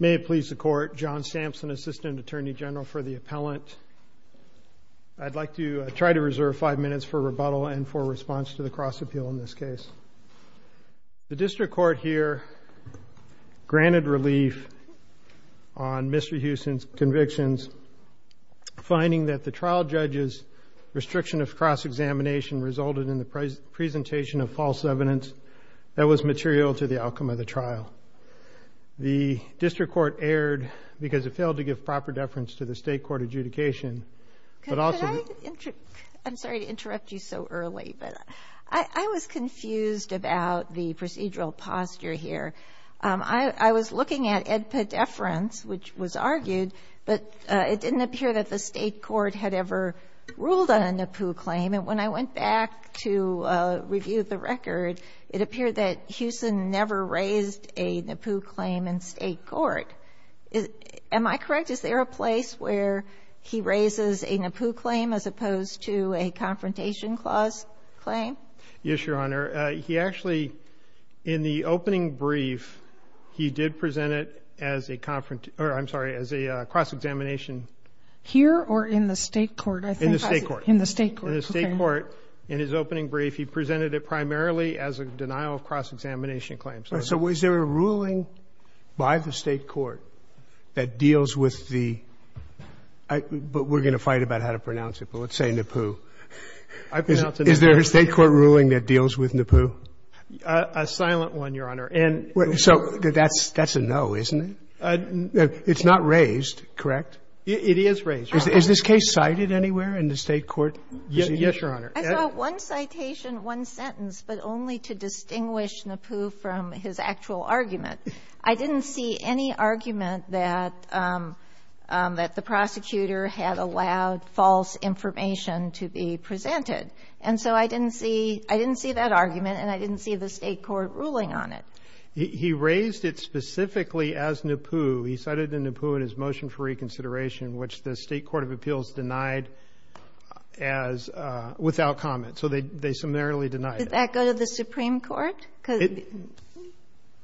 May it please the Court, John Sampson, Assistant Attorney General for the Appellant. I'd like to try to reserve five minutes for rebuttal and for response to the cross-appeal in this case. The District Court here granted relief on Mr. Hewson's convictions, finding that the trial judge's restriction of cross-examination resulted in the presentation of false evidence The District Court erred because it failed to give proper deference to the State Court adjudication, but also Could I, I'm sorry to interrupt you so early, but I was confused about the procedural posture here. I was looking at edpa deference, which was argued, but it didn't appear that the State Court had ever ruled on a NAPU claim. And when I went back to review the record, it appeared that Hewson never raised a NAPU claim in State Court. Am I correct? Is there a place where he raises a NAPU claim as opposed to a Confrontation Clause claim? Yes, Your Honor. He actually, in the opening brief, he did present it as a, I'm sorry, as a cross-examination. Here or in the State Court? In the State Court. In the State Court. In the State Court. In his opening brief, he presented it primarily as a denial of cross-examination claim. So is there a ruling by the State Court that deals with the, but we're going to fight about how to pronounce it, but let's say NAPU. I pronounce it NAPU. Is there a State Court ruling that deals with NAPU? A silent one, Your Honor. And so that's a no, isn't it? It's not raised, correct? It is raised. Is this case cited anywhere in the State Court? Yes, Your Honor. I saw one citation, one sentence, but only to distinguish NAPU from his actual argument. I didn't see any argument that the prosecutor had allowed false information to be presented. And so I didn't see, I didn't see that argument and I didn't see the State Court ruling on it. He raised it specifically as NAPU. He cited NAPU in his motion for reconsideration, which the State Court of Appeals denied as, without comment. So they summarily denied it. Did that go to the Supreme Court?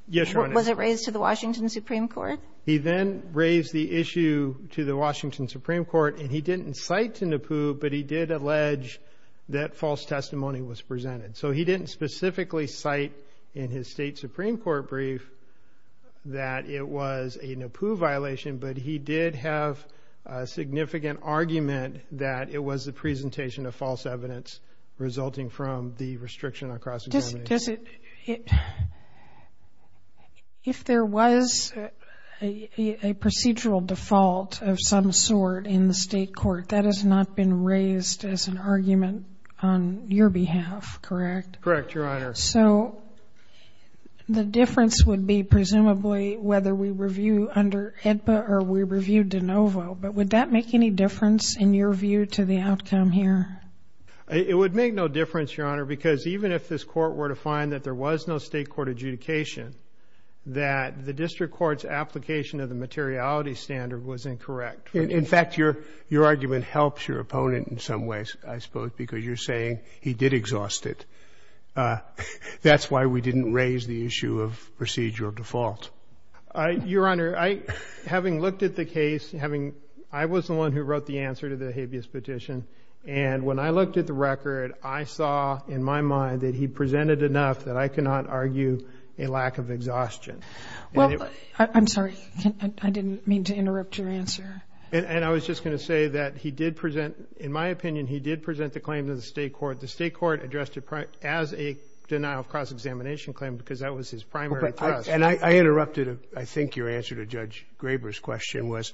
Yes, Your Honor. Was it raised to the Washington Supreme Court? He then raised the issue to the Washington Supreme Court and he didn't cite to NAPU, but he did allege that false testimony was presented. So he didn't specifically cite in his State Supreme Court brief that it was a NAPU violation, but he did have a significant argument that it was the presentation of false evidence resulting from the restriction on cross-examination. If there was a procedural default of some sort in the State Court, that has not been correct. Correct, Your Honor. So the difference would be presumably whether we review under AEDPA or we review de novo, but would that make any difference in your view to the outcome here? It would make no difference, Your Honor, because even if this Court were to find that there was no State Court adjudication, that the district court's application of the materiality standard was incorrect. In fact, your argument helps your opponent in some ways, I suppose, because you're saying he did exhaust it. That's why we didn't raise the issue of procedural default. Your Honor, having looked at the case, I was the one who wrote the answer to the habeas petition, and when I looked at the record, I saw in my mind that he presented enough that I cannot argue a lack of exhaustion. Well, I'm sorry. I didn't mean to interrupt your answer. And I was just going to say that he did present, in my opinion, he did present the claim to the State Court. The State Court addressed it as a denial of cross-examination claim because that was his primary thrust. And I interrupted, I think, your answer to Judge Graber's question was,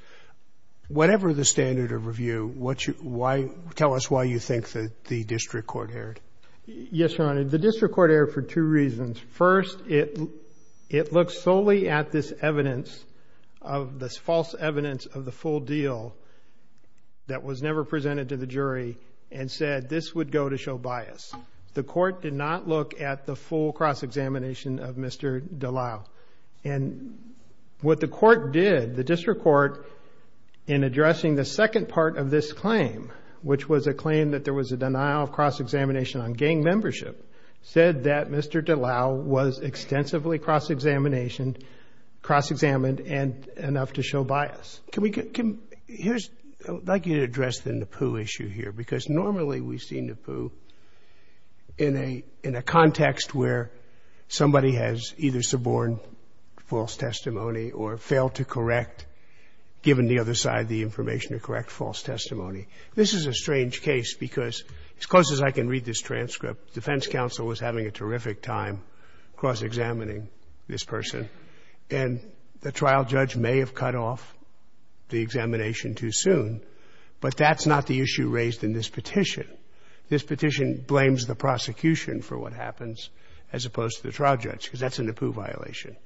whatever the standard of review, tell us why you think the district court erred. Yes, Your Honor. The district court erred for two reasons. First, it looks solely at this evidence, this false evidence of the full deal that was never presented to the jury and said this would go to show bias. The court did not look at the full cross-examination of Mr. Dallal. And what the court did, the district court, in addressing the second part of this claim, which was a claim that there was a denial of cross-examination on gang membership, said that Mr. Dallal was extensively cross-examined and enough to show bias. Can we get – here's – I'd like you to address the Nepu issue here, because normally we've seen Nepu in a context where somebody has either suborned false testimony or failed to correct, given the other side the information, to correct false testimony. This is a strange case because, as close as I can read this transcript, the Defense Counsel was having a terrific time cross-examining this person. And the trial judge may have cut off the examination too soon. But that's not the issue raised in this petition. This petition blames the prosecution for what happens, as opposed to the trial judge, because that's a Nepu violation.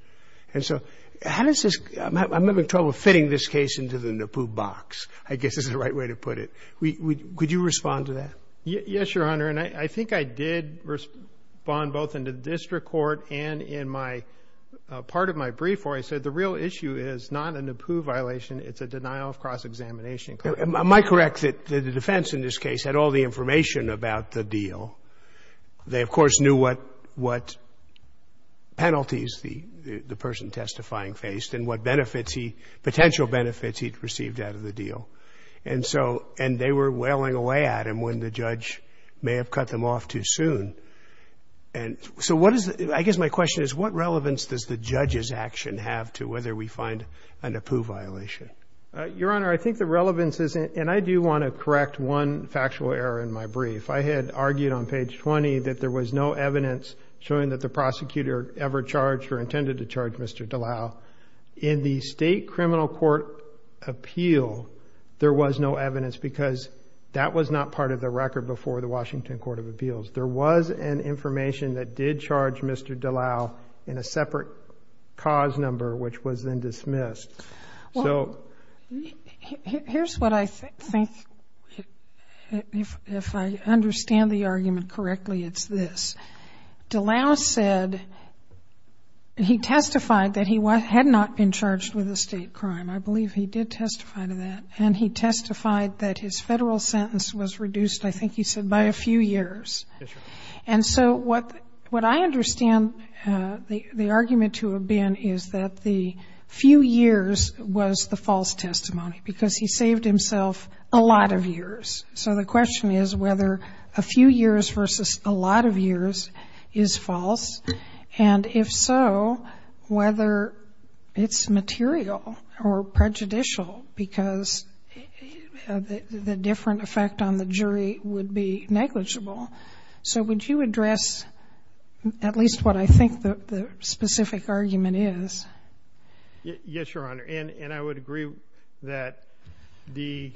And so how does this – I'm having trouble fitting this case into the Nepu box, I guess is the right way to put it. Could you respond to that? Yes, Your Honor. And I think I did respond both in the district court and in my – part of my brief where I said the real issue is not a Nepu violation. It's a denial of cross-examination. Am I correct that the defense in this case had all the information about the deal? They, of course, knew what penalties the person testifying faced and what benefits he – potential benefits he'd received out of the deal. And so – and they were wailing away at him when the judge may have cut them off too soon. And so what is – I guess my question is what relevance does the judge's action have to whether we find a Nepu violation? Your Honor, I think the relevance is – and I do want to correct one factual error in my brief. I had argued on page 20 that there was no evidence showing that the prosecutor ever charged or intended to charge Mr. Dallal. In the state criminal court appeal, there was no evidence because that was not part of the record before the Washington Court of Appeals. There was an information that did charge Mr. Dallal in a separate cause number which was then dismissed. Well, here's what I think – if I understand the argument correctly, it's this. Dallal said – he testified that he had not been charged with a state crime. I believe he did testify to that. And he testified that his federal sentence was reduced, I think he said, by a few years. Yes, Your Honor. And so what I understand the argument to have been is that the few years was the false testimony because he saved himself a lot of years. So the question is whether a few years versus a lot of years is false, and if so, whether it's material or prejudicial because the different effect on the jury would be negligible. So would you address at least what I think the specific argument is? Yes, Your Honor. And I would agree that the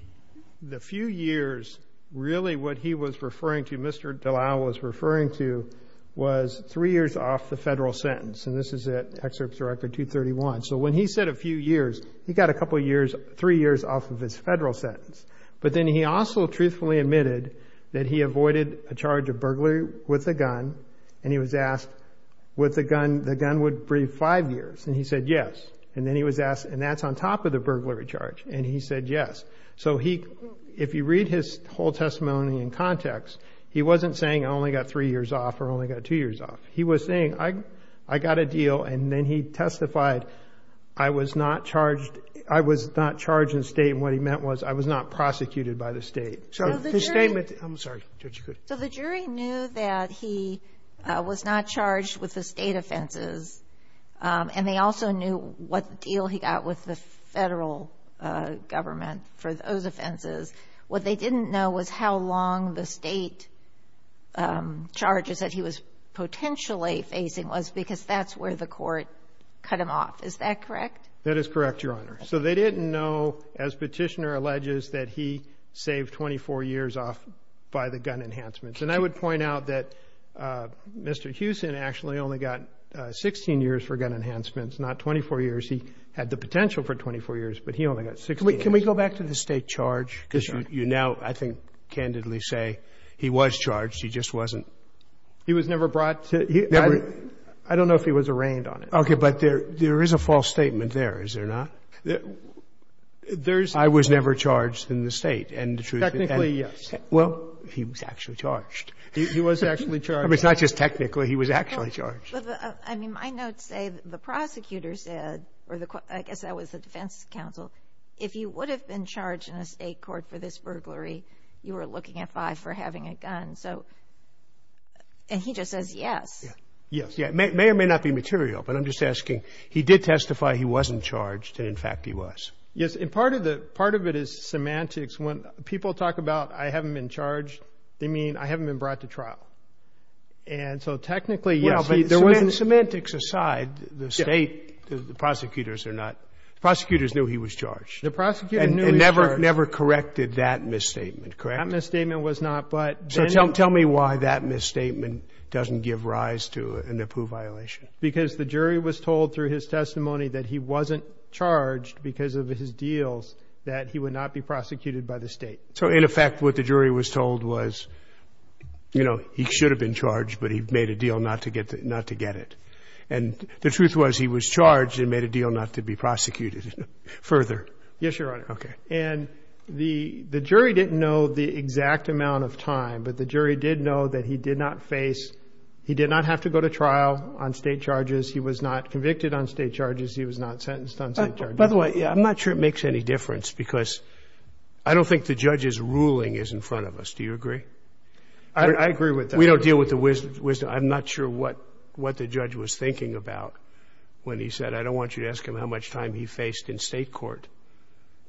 few years really what he was referring to, Mr. Dallal was referring to, was three years off the federal sentence. And this is at Excerpts Record 231. So when he said a few years, he got a couple years, three years off of his federal sentence. But then he also truthfully admitted that he avoided a charge of burglary with a gun, and he was asked would the gun – the gun would brief five years. And he said yes. And then he was asked, and that's on top of the burglary charge. And he said yes. So he – if you read his whole testimony in context, he wasn't saying I only got three years off or only got two years off. He was saying I got a deal, and then he testified I was not charged – I was not charged in the state, and what he meant was I was not prosecuted by the state. So his statement – I'm sorry, Judge, you're good. So the jury knew that he was not charged with the state offenses, and they also knew what deal he got with the federal government for those offenses. What they didn't know was how long the state charges that he was potentially facing was, because that's where the court cut him off. Is that correct? That is correct, Your Honor. So they didn't know, as Petitioner alleges, that he saved 24 years off by the gun enhancements. And I would point out that Mr. Hewson actually only got 16 years for gun enhancements, not 24 years. He had the potential for 24 years, but he only got 16 years. Can we go back to the state charge? Because you now, I think, candidly say he was charged. He just wasn't. He was never brought to – Never. I don't know if he was arraigned on it. Okay. But there is a false statement there, is there not? There's – I was never charged in the state. And the truth is – Technically, yes. Well, he was actually charged. He was actually charged. I mean, it's not just technically. He was actually charged. I mean, my notes say the prosecutor said – or I guess that was the defense counsel – if you would have been charged in a state court for this burglary, you were looking at five for having a gun. And he just says yes. Yes. It may or may not be material, but I'm just asking. He did testify he wasn't charged, and, in fact, he was. Yes. And part of it is semantics. When people talk about I haven't been charged, they mean I haven't been brought to trial. And so technically, yes. Semantics aside, the state, the prosecutors are not – the prosecutors knew he was charged. The prosecutors knew he was charged. And never corrected that misstatement, correct? That misstatement was not. So tell me why that misstatement doesn't give rise to a NAPU violation. Because the jury was told through his testimony that he wasn't charged because of his deals that he would not be prosecuted by the state. So, in effect, what the jury was told was, you know, he should have been charged, but he made a deal not to get it. And the truth was he was charged and made a deal not to be prosecuted further. Yes, Your Honor. Okay. And the jury didn't know the exact amount of time, but the jury did know that he did not face – he did not have to go to trial on state charges. He was not convicted on state charges. He was not sentenced on state charges. By the way, I'm not sure it makes any difference because I don't think the judge's ruling is in front of us. Do you agree? I agree with that. We don't deal with the wisdom. I'm not sure what the judge was thinking about when he said, I don't want you to ask him how much time he faced in state court,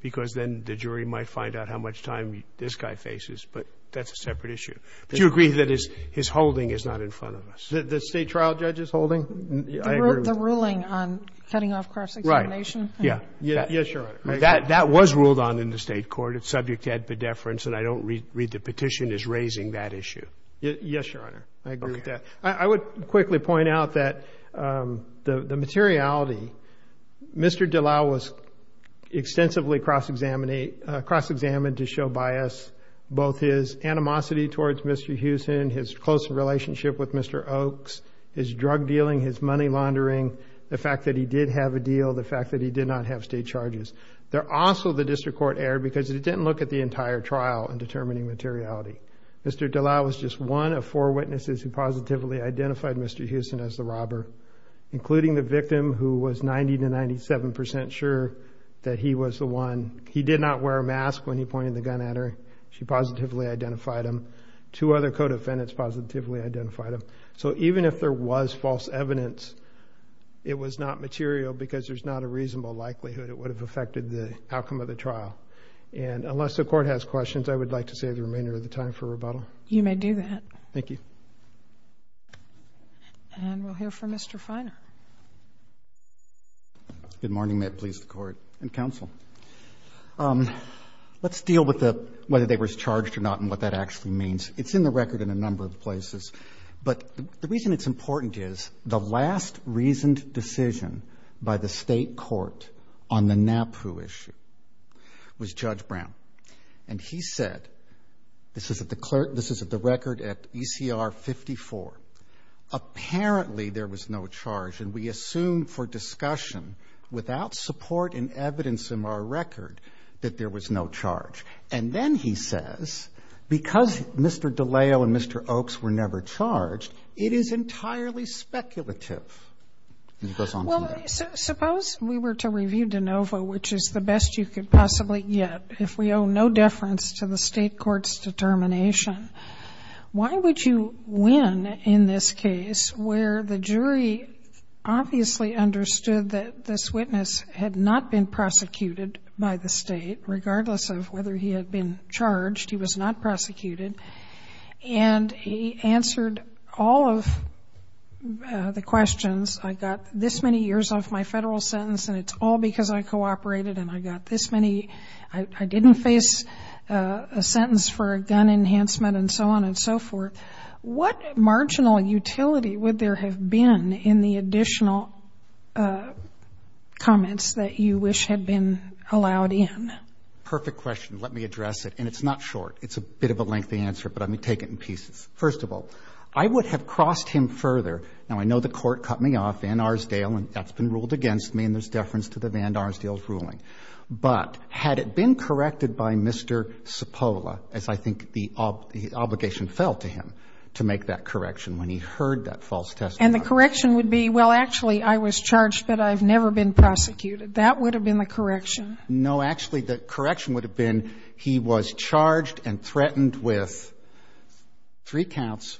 because then the jury might find out how much time this guy faces. But that's a separate issue. Do you agree that his holding is not in front of us? The state trial judge's holding? I agree. The ruling on cutting off cross-examination. Right. Yes, Your Honor. That was ruled on in the state court. It's subject to ad pedeference. And I don't read the petition as raising that issue. Yes, Your Honor. I agree with that. I would quickly point out that the materiality, Mr. Dallal was extensively cross-examined to show bias, both his animosity towards Mr. Hewson, his close relationship with Mr. Oaks, his drug dealing, his money laundering, the fact that he did have a deal, the fact that he did not have state charges. They're also the district court error because it didn't look at the entire trial in determining materiality. Mr. Dallal was just one of four witnesses who positively identified Mr. Hewson as the robber, including the victim who was 90 to 97% sure that he was the one. He did not wear a mask when he pointed the gun at her. She positively identified him. Two other co-defendants positively identified him. So even if there was false evidence, it was not material because there's not a reasonable likelihood it would have affected the outcome of the trial. And unless the court has questions, I would like to save the remainder of the time for rebuttal. You may do that. Thank you. And we'll hear from Mr. Feiner. Good morning. May it please the Court and counsel. Let's deal with the whether they were charged or not and what that actually means. It's in the record in a number of places, but the reason it's important is the last reasoned decision by the State court on the NAPU issue was Judge Brown. And he said, this is at the record at ECR 54, apparently there was no charge. And we assume for discussion without support and evidence in our record that there was no charge. And then he says, because Mr. DiLeo and Mr. Oakes were never charged, it is entirely speculative. And he goes on from there. Well, suppose we were to review DeNovo, which is the best you could possibly get if we owe no deference to the State court's determination, why would you win in this case where the jury obviously understood that this witness had not been prosecuted by the State, regardless of whether he had been charged, he was not prosecuted, and he answered all of the questions. I got this many years off my Federal sentence and it's all because I cooperated and I got this many, I didn't face a sentence for a gun enhancement and so on and so forth. What marginal utility would there have been in the additional comments that you wish had been allowed in? Perfect question. Let me address it. And it's not short. It's a bit of a lengthy answer, but let me take it in pieces. First of all, I would have crossed him further. Now, I know the Court cut me off, Van Arsdale, and that's been ruled against me and there's deference to the Van Arsdale's ruling. But had it been corrected by Mr. Cipolla, as I think the obligation fell to him, to make that correction when he heard that false testimony. And the correction would be, well, actually, I was charged, but I've never been prosecuted. That would have been the correction. No, actually, the correction would have been he was charged and threatened with three counts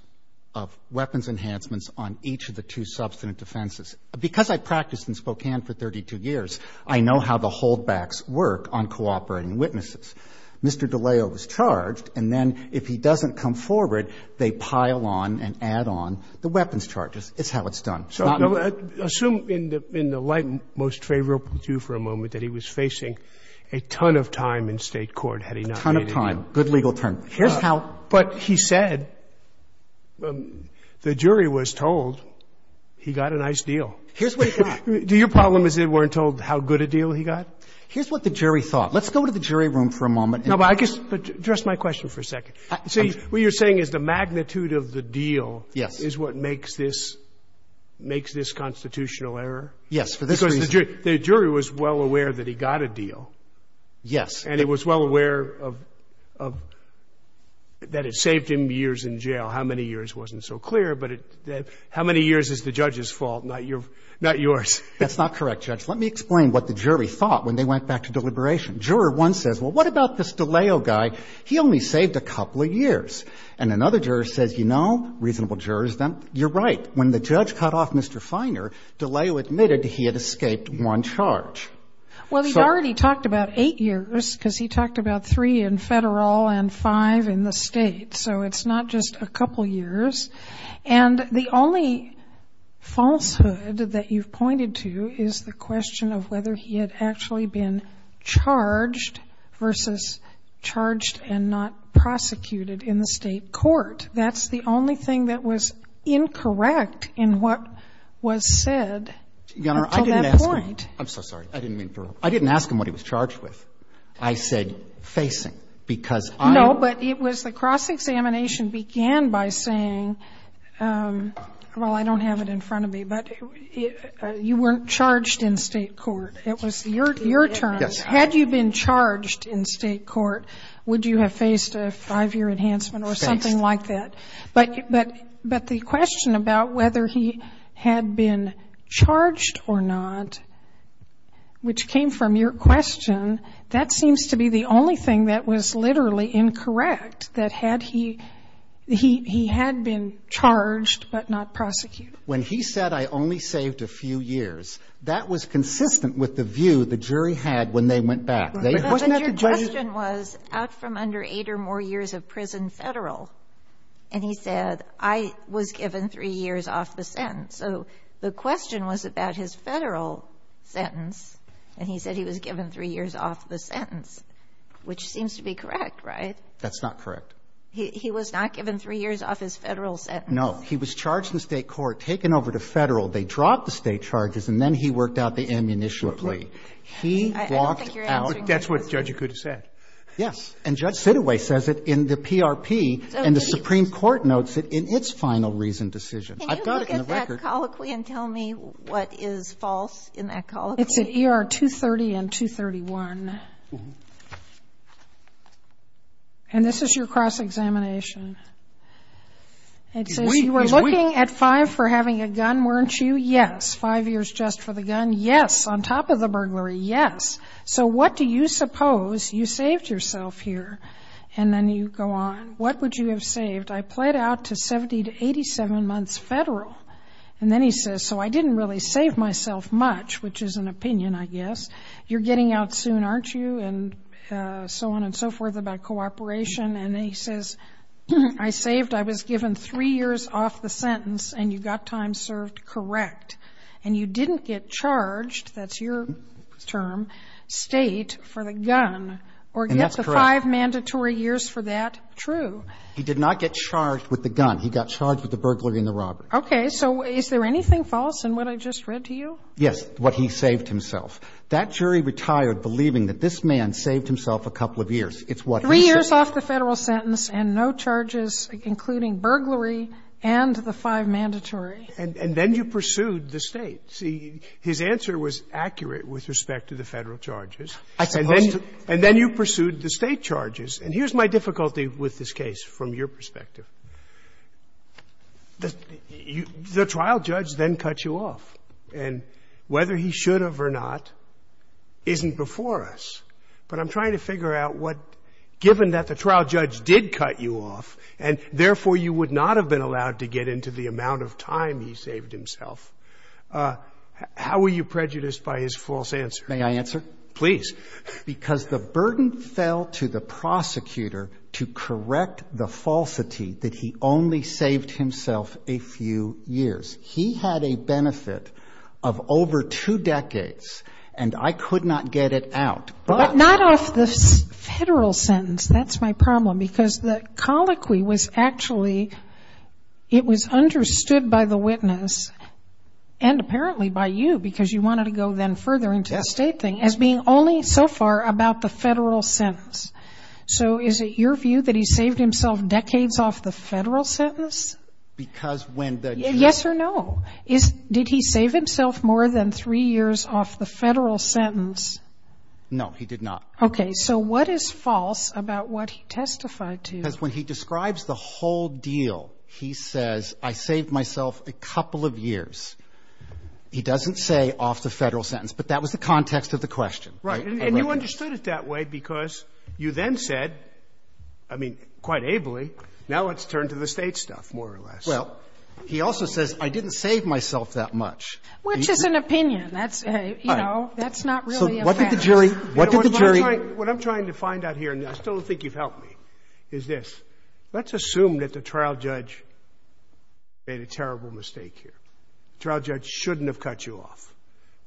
of weapons enhancements on each of the two substantive defenses. Because I practiced in Spokane for 32 years, I know how the holdbacks work on cooperating witnesses. Mr. DiLeo was charged, and then if he doesn't come forward, they pile on and add on the weapons charges. It's how it's done. Assume in the light most favorable to you for a moment that he was facing a ton of time in State court had he not made it in. That's my good legal term. Here's how. But he said the jury was told he got a nice deal. Here's what he got. Do your problem is they weren't told how good a deal he got? Here's what the jury thought. Let's go to the jury room for a moment. No, but I guess address my question for a second. See, what you're saying is the magnitude of the deal is what makes this constitutional error? Yes, for this reason. Because the jury was well aware that he got a deal. Yes. And it was well aware of that it saved him years in jail. How many years wasn't so clear, but how many years is the judge's fault, not yours? That's not correct, Judge. Let me explain what the jury thought when they went back to deliberation. Juror one says, well, what about this DiLeo guy? He only saved a couple of years. And another juror says, you know, reasonable jurors, then you're right. When the judge cut off Mr. Feiner, DiLeo admitted he had escaped one charge. Well, he already talked about eight years because he talked about three in federal and five in the state. So it's not just a couple years. And the only falsehood that you've pointed to is the question of whether he had actually been charged versus charged and not prosecuted in the state court. That's the only thing that was incorrect in what was said until that point. I'm so sorry. I didn't mean to interrupt. I didn't ask him what he was charged with. I said facing, because I am. No, but it was the cross-examination began by saying, well, I don't have it in front of me, but you weren't charged in state court. It was your turn. Yes. Had you been charged in state court, would you have faced a five-year enhancement or something like that? Faced. But the question about whether he had been charged or not, which came from your question, that seems to be the only thing that was literally incorrect, that had he been charged but not prosecuted. When he said, I only saved a few years, that was consistent with the view the jury had when they went back. Wasn't that the jury's view? And he said, I was given three years off the sentence. So the question was about his Federal sentence, and he said he was given three years off the sentence, which seems to be correct, right? That's not correct. He was not given three years off his Federal sentence. No. He was charged in state court, taken over to Federal. They dropped the state charges, and then he worked out the ammunition plea. He walked out. I don't think you're answering my question. That's what the judge could have said. Yes. And Judge Sidaway says it in the PRP, and the Supreme Court notes it in its final reason decision. I've got it in the record. Can you look at that colloquy and tell me what is false in that colloquy? It's at ER 230 and 231. And this is your cross-examination. It says you were looking at five for having a gun, weren't you? Yes. Five years just for the gun. Yes. On top of the burglary. Yes. So what do you suppose you saved yourself here? And then you go on. What would you have saved? I pled out to 70 to 87 months Federal. And then he says, so I didn't really save myself much, which is an opinion, I guess. You're getting out soon, aren't you? And so on and so forth about cooperation. And then he says, I saved, I was given three years off the sentence, and you got time served correct. And you didn't get charged. That's your term. State for the gun. And that's correct. Or get the five mandatory years for that true. He did not get charged with the gun. He got charged with the burglary and the robbery. Okay. So is there anything false in what I just read to you? Yes. What he saved himself. That jury retired believing that this man saved himself a couple of years. It's what he said. Three years off the Federal sentence and no charges, including burglary and the five mandatory. And then you pursued the State. See, his answer was accurate with respect to the Federal charges. I suppose. And then you pursued the State charges. And here's my difficulty with this case from your perspective. The trial judge then cut you off. And whether he should have or not isn't before us. But I'm trying to figure out what, given that the trial judge did cut you off, and therefore you would not have been allowed to get into the amount of time he saved himself. How were you prejudiced by his false answer? May I answer? Please. Because the burden fell to the prosecutor to correct the falsity that he only saved himself a few years. He had a benefit of over two decades, and I could not get it out. But not off the Federal sentence. That's my problem. Because the colloquy was actually, it was understood by the witness, and apparently by you, because you wanted to go then further into the State thing, as being only so far about the Federal sentence. So is it your view that he saved himself decades off the Federal sentence? Because when the judge ---- Yes or no. Did he save himself more than three years off the Federal sentence? No, he did not. Okay. So what is false about what he testified to? Because when he describes the whole deal, he says, I saved myself a couple of years. He doesn't say off the Federal sentence. But that was the context of the question. Right. And you understood it that way because you then said, I mean, quite ably, now let's turn to the State stuff, more or less. Well, he also says, I didn't save myself that much. Which is an opinion. That's, you know, that's not really a fact. What did the jury ---- What I'm trying to find out here, and I still don't think you've helped me, is this. Let's assume that the trial judge made a terrible mistake here. The trial judge shouldn't have cut you off.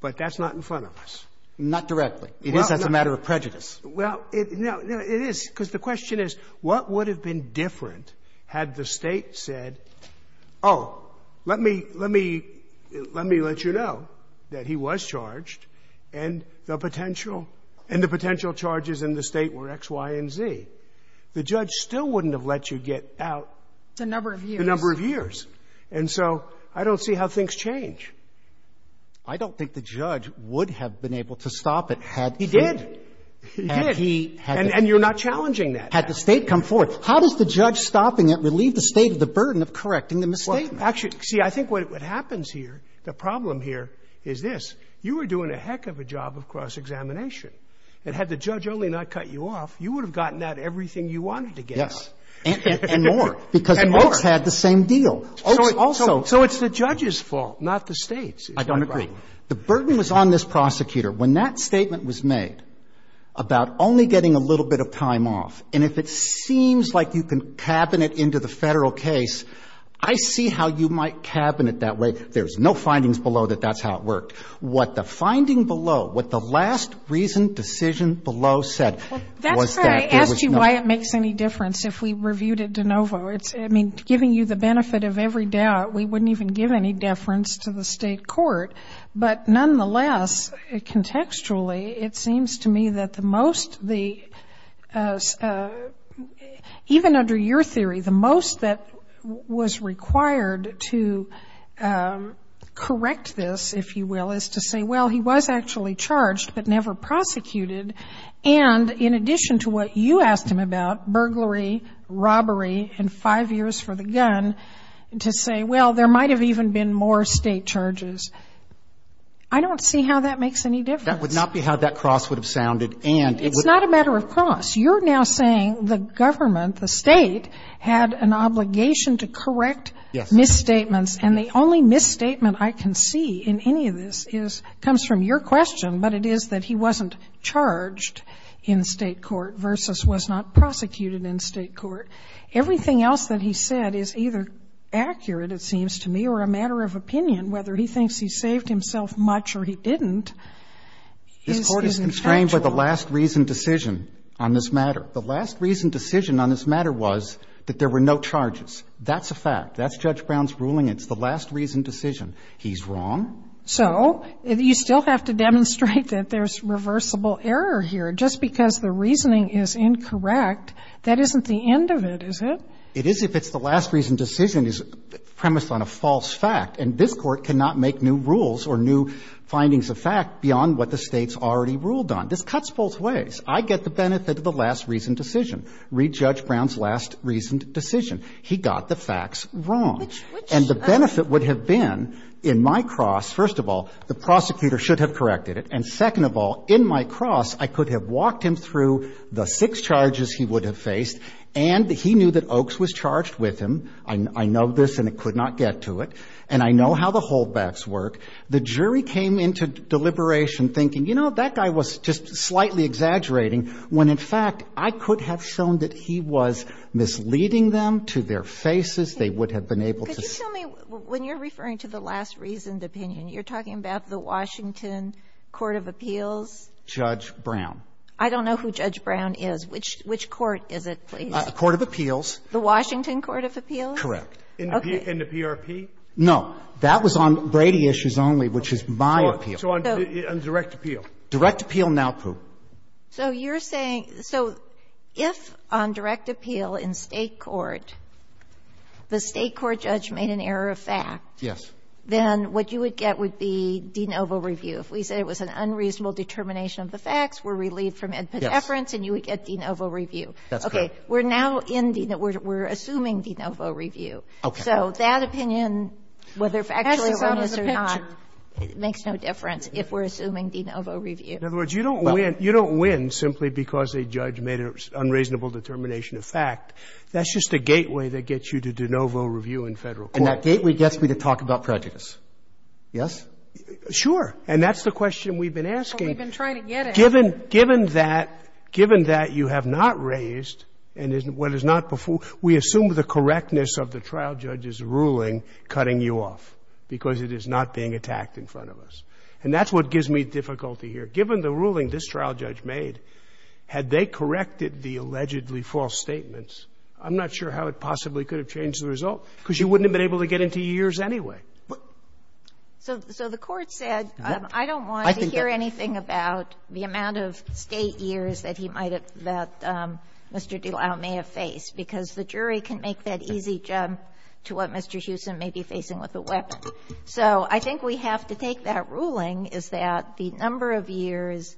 But that's not in front of us. Not directly. It is. That's a matter of prejudice. Well, it is. Because the question is, what would have been different had the State said, oh, let me, let me, let me let you know that he was charged and the potential, and the potential charges in the State were X, Y, and Z. The judge still wouldn't have let you get out. The number of years. The number of years. And so I don't see how things change. I don't think the judge would have been able to stop it had he ---- He did. He did. And he had to ---- And you're not challenging that. Had the State come forward. How does the judge stopping it relieve the State of the burden of correcting the misstatement? Actually, see, I think what happens here, the problem here is this. You were doing a heck of a job of cross-examination. And had the judge only not cut you off, you would have gotten out everything you wanted to get out. Yes. And more. And more. Because Oakes had the same deal. Oakes also. So it's the judge's fault, not the State's. I don't agree. The burden was on this prosecutor. When that statement was made about only getting a little bit of time off, and if it that way, there's no findings below that that's how it worked. What the finding below, what the last reason, decision below said was that there was no ---- That's why I asked you why it makes any difference if we reviewed it de novo. I mean, giving you the benefit of every doubt, we wouldn't even give any deference to the State court. But nonetheless, contextually, it seems to me that the most the ---- even under your theory, the most that was required to correct this, if you will, is to say, well, he was actually charged, but never prosecuted. And in addition to what you asked him about, burglary, robbery, and five years for the gun, to say, well, there might have even been more State charges. I don't see how that makes any difference. That would not be how that cross would have sounded. And it would ---- It's not a matter of cross. You're now saying the government, the State, had an obligation to correct misstatements. Yes. And the only misstatement I can see in any of this is ---- comes from your question, but it is that he wasn't charged in State court versus was not prosecuted in State court. Everything else that he said is either accurate, it seems to me, or a matter of opinion. This Court is constrained by the last reason decision on this matter. The last reason decision on this matter was that there were no charges. That's a fact. That's Judge Brown's ruling. It's the last reason decision. He's wrong. So you still have to demonstrate that there's reversible error here. Just because the reasoning is incorrect, that isn't the end of it, is it? It is if it's the last reason decision is premised on a false fact. And this Court cannot make new rules or new findings of fact beyond what the State's already ruled on. This cuts both ways. I get the benefit of the last reason decision. Read Judge Brown's last reason decision. He got the facts wrong. And the benefit would have been in my cross, first of all, the prosecutor should have corrected it, and second of all, in my cross, I could have walked him through the six charges he would have faced, and he knew that Oaks was charged with him. I know this, and I could not get to it. And I know how the holdbacks work. The jury came into deliberation thinking, you know, that guy was just slightly exaggerating, when, in fact, I could have shown that he was misleading them to their faces. They would have been able to see. Could you tell me, when you're referring to the last reasoned opinion, you're talking about the Washington Court of Appeals? Judge Brown. I don't know who Judge Brown is. Which court is it, please? Court of Appeals. The Washington Court of Appeals? Correct. In the PRP? No. That was on Brady issues only, which is my appeal. So on direct appeal? Direct appeal, now proved. So you're saying, so if on direct appeal in State court, the State court judge made an error of fact. Yes. Then what you would get would be de novo review. If we said it was an unreasonable determination of the facts, we're relieved from Ed Pedefrance. And you would get de novo review. That's correct. Okay. We're now in de novo. We're assuming de novo review. Okay. So that opinion, whether factually wrong is or not, makes no difference if we're assuming de novo review. In other words, you don't win simply because a judge made an unreasonable determination of fact. That's just a gateway that gets you to de novo review in Federal court. And that gateway gets me to talk about prejudice. Yes? Sure. And that's the question we've been asking. Well, we've been trying to get it. Given that you have not raised and what is not before, we assume the correctness of the trial judge's ruling cutting you off because it is not being attacked in front of us. And that's what gives me difficulty here. Given the ruling this trial judge made, had they corrected the allegedly false statements, I'm not sure how it possibly could have changed the result because you wouldn't have been able to get into years anyway. So the Court said, I don't want to hear anything about the amount of State years that he might have, that Mr. Delisle may have faced because the jury can make that easy jump to what Mr. Hewson may be facing with a weapon. So I think we have to take that ruling, is that the number of years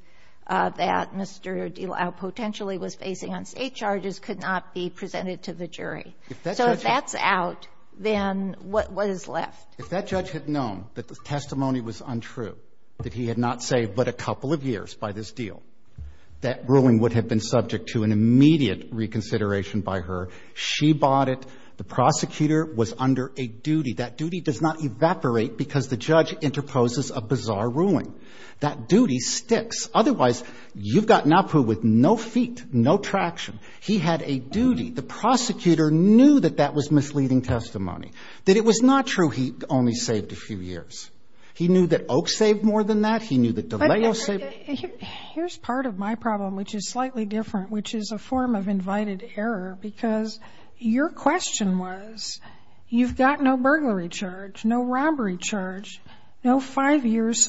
that Mr. Delisle potentially was facing on State charges could not be presented to the jury. So if that's out, then what is left? If that judge had known that the testimony was untrue, that he had not saved but a couple of years by this deal, that ruling would have been subject to an immediate reconsideration by her. She bought it. The prosecutor was under a duty. That duty does not evaporate because the judge interposes a bizarre ruling. That duty sticks. Otherwise, you've got NAPU with no feet, no traction. He had a duty. The prosecutor knew that that was misleading testimony, that it was not true he only saved a few years. He knew that Oak saved more than that. He knew that Delisle saved more than that. Here's part of my problem, which is slightly different, which is a form of invited error, because your question was, you've got no burglary charge, no robbery charge, no five years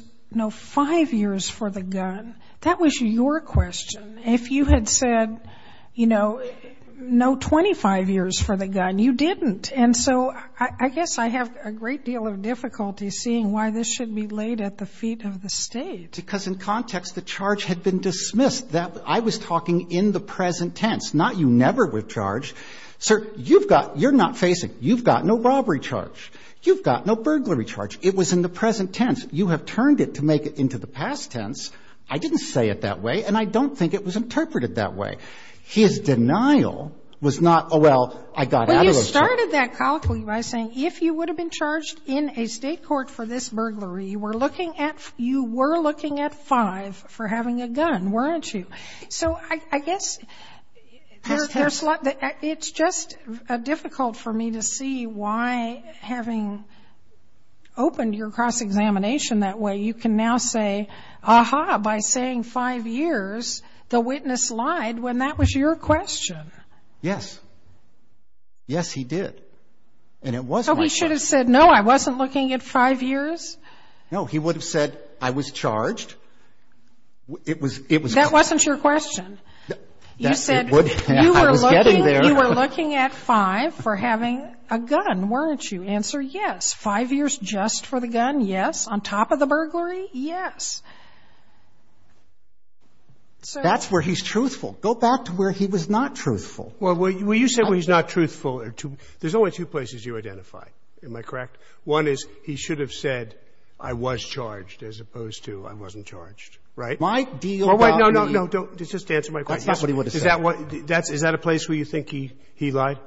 for the gun. That was your question. If you had said, you know, no 25 years for the gun, you didn't. And so I guess I have a great deal of difficulty seeing why this should be laid at the feet of the State. Because in context, the charge had been dismissed. I was talking in the present tense, not you never were charged. Sir, you've got you're not facing. You've got no robbery charge. You've got no burglary charge. It was in the present tense. You have turned it to make it into the past tense. I didn't say it that way, and I don't think it was interpreted that way. His denial was not, oh, well, I got out of those charges. Well, you started that colloquially by saying, if you would have been charged in a State court for this burglary, you were looking at five for having a gun, weren't you? So I guess there's a lot. It's just difficult for me to see why, having opened your cross-examination that way, you can now say, ah-ha, by saying five years, the witness lied when that was your question. Yes. Yes, he did. And it wasn't like that. So he should have said, no, I wasn't looking at five years? No, he would have said, I was charged. That wasn't your question. You said, you were looking at five for having a gun, weren't you? Answer yes. Five years just for the gun? Yes. On top of the burglary? Yes. That's where he's truthful. Go back to where he was not truthful. Well, you said where he's not truthful. There's only two places you identify. Am I correct? One is he should have said, I was charged, as opposed to, I wasn't charged. Right? My deal about the ---- No, no, no. Just answer my question. That's not what he would have said. Is that a place where you think he lied?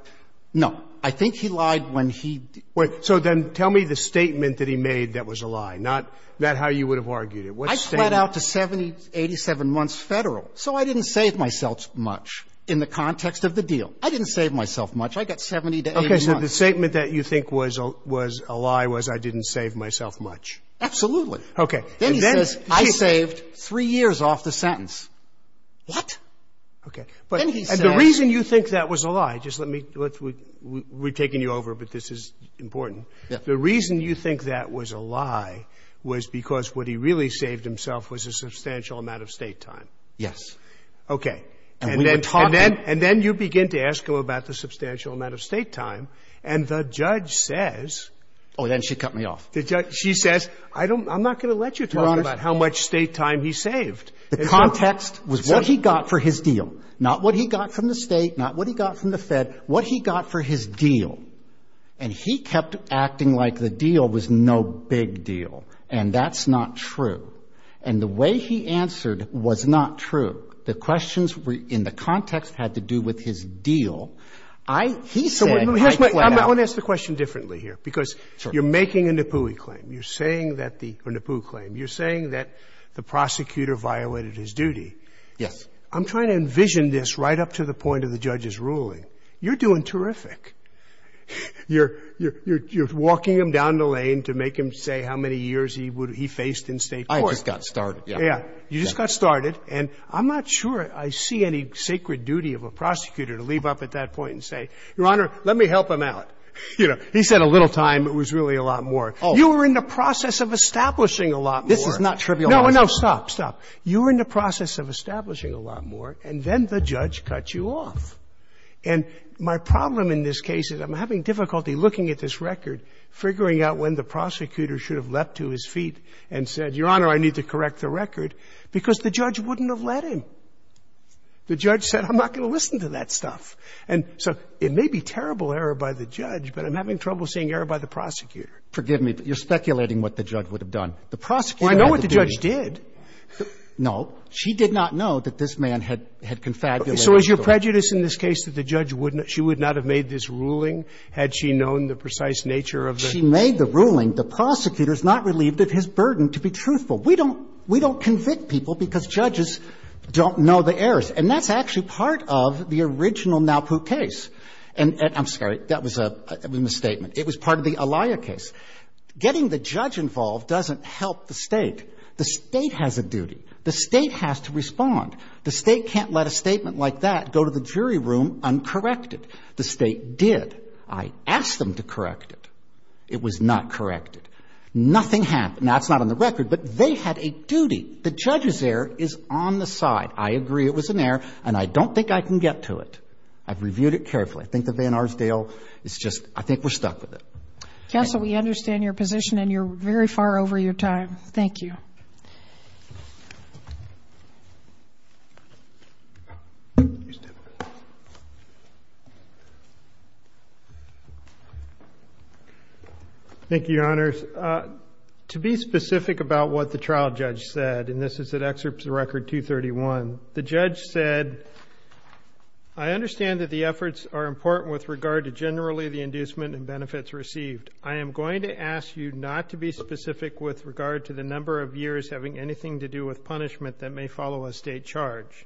No. I think he lied when he ---- Wait. So then tell me the statement that he made that was a lie, not how you would have argued it. What statement? I pled out to 70, 87 months Federal, so I didn't save myself much in the context of the deal. I didn't save myself much. I got 70 to 80 months. Okay. So the statement that you think was a lie was, I didn't save myself much. Absolutely. Okay. Then he says, I saved three years off the sentence. What? Okay. Then he says ---- And the reason you think that was a lie, just let me ---- we're taking you over, but this is important. Yeah. The reason you think that was a lie was because what he really saved himself was a substantial amount of State time. Yes. Okay. And we were talking ---- And then you begin to ask him about the substantial amount of State time, and the judge says ---- Oh, then she cut me off. She says, I don't ---- I'm not going to let you talk about how much State time he saved. The context was what he got for his deal, not what he got from the State, not what he got from the Fed, what he got for his deal. And he kept acting like the deal was no big deal. And that's not true. And the way he answered was not true. The questions in the context had to do with his deal. I ---- he said ---- So here's my ---- I want to ask the question differently here. Because you're making a Nippoui claim. You're saying that the ---- or Nippoui claim. You're saying that the prosecutor violated his duty. Yes. I'm trying to envision this right up to the point of the judge's ruling. You're doing terrific. You're ---- you're walking him down the lane to make him say how many years he would ---- he faced in State court. I just got started. Yeah. You just got started. And I'm not sure I see any sacred duty of a prosecutor to leave up at that point and say, Your Honor, let me help him out. You know, he said a little time, but it was really a lot more. You were in the process of establishing a lot more. This is not trivializing. No, no, stop, stop. You were in the process of establishing a lot more, and then the judge cut you off. And my problem in this case is I'm having difficulty looking at this record, figuring out when the prosecutor should have leapt to his feet and said, Your Honor, I need to correct the record, because the judge wouldn't have let him. The judge said, I'm not going to listen to that stuff. And so it may be terrible error by the judge, but I'm having trouble seeing error by the prosecutor. Forgive me, but you're speculating what the judge would have done. The prosecutor had to do this. Well, I know what the judge did. No. She did not know that this man had confabulated the record. Okay. So is your prejudice in this case that the judge would not – she would not have made this ruling had she known the precise nature of the case? She made the ruling. The prosecutor is not relieved of his burden to be truthful. We don't – we don't convict people because judges don't know the errors. And that's actually part of the original Naupu case. And I'm sorry. That was a misstatement. It was part of the Alaia case. Getting the judge involved doesn't help the State. The State has a duty. The State has to respond. The State can't let a statement like that go to the jury room uncorrected. The State did. I asked them to correct it. It was not corrected. Nothing happened. Now, it's not on the record, but they had a duty. The judge's error is on the side. I agree it was an error, and I don't think I can get to it. I've reviewed it carefully. I think the Van Arsdale is just – I think we're stuck with it. Counsel, we understand your position, and you're very far over your time. Thank you. Thank you, Your Honors. To be specific about what the trial judge said, and this is at Excerpts of Record 231, the judge said, I understand that the efforts are important with regard to generally the inducement and benefits received. I am going to ask you not to be specific with regard to the number of years having anything to do with punishment that may follow a State charge.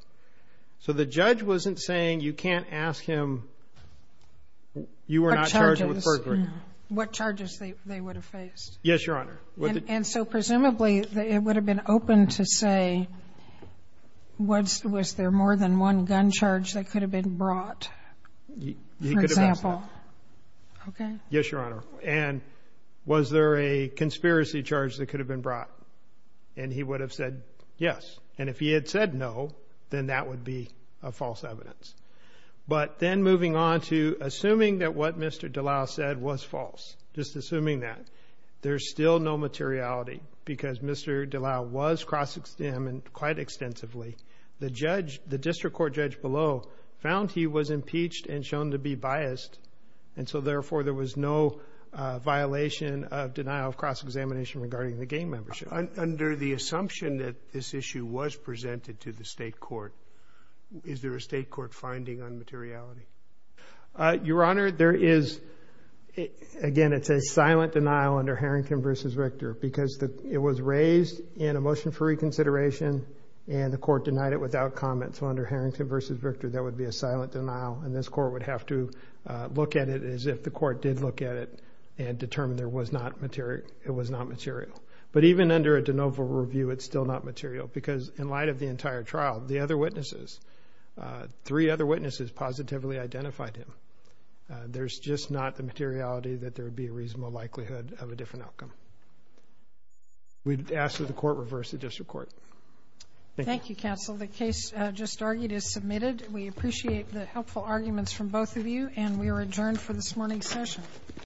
So the judge wasn't saying you can't ask him you were not charged with perjury. What charges they would have faced. Yes, Your Honor. And so presumably it would have been open to say, was there more than one gun charge that could have been brought, for example. Yes, Your Honor. And was there a conspiracy charge that could have been brought? And he would have said yes. And if he had said no, then that would be a false evidence. But then moving on to assuming that what Mr. Dallal said was false, just assuming that, there's still no materiality because Mr. Dallal was cross-examined quite extensively. The district court judge below found he was impeached and shown to be biased, and so therefore there was no violation of denial of cross-examination regarding the gang membership. Under the assumption that this issue was presented to the State court, is there a State court finding on materiality? Your Honor, there is. Again, it's a silent denial under Harrington v. Richter because it was raised in a motion for reconsideration and the court denied it without comment. So under Harrington v. Richter, that would be a silent denial and this court would have to look at it as if the court did look at it and determine it was not material. But even under a de novo review, it's still not material because in light of the entire trial, the other witnesses, three other witnesses positively identified him. There's just not the materiality that there would be a reasonable likelihood of a different outcome. We'd ask that the court reverse the district court. Thank you, counsel. The case just argued is submitted. We appreciate the helpful arguments from both of you, and we are adjourned for this morning's session.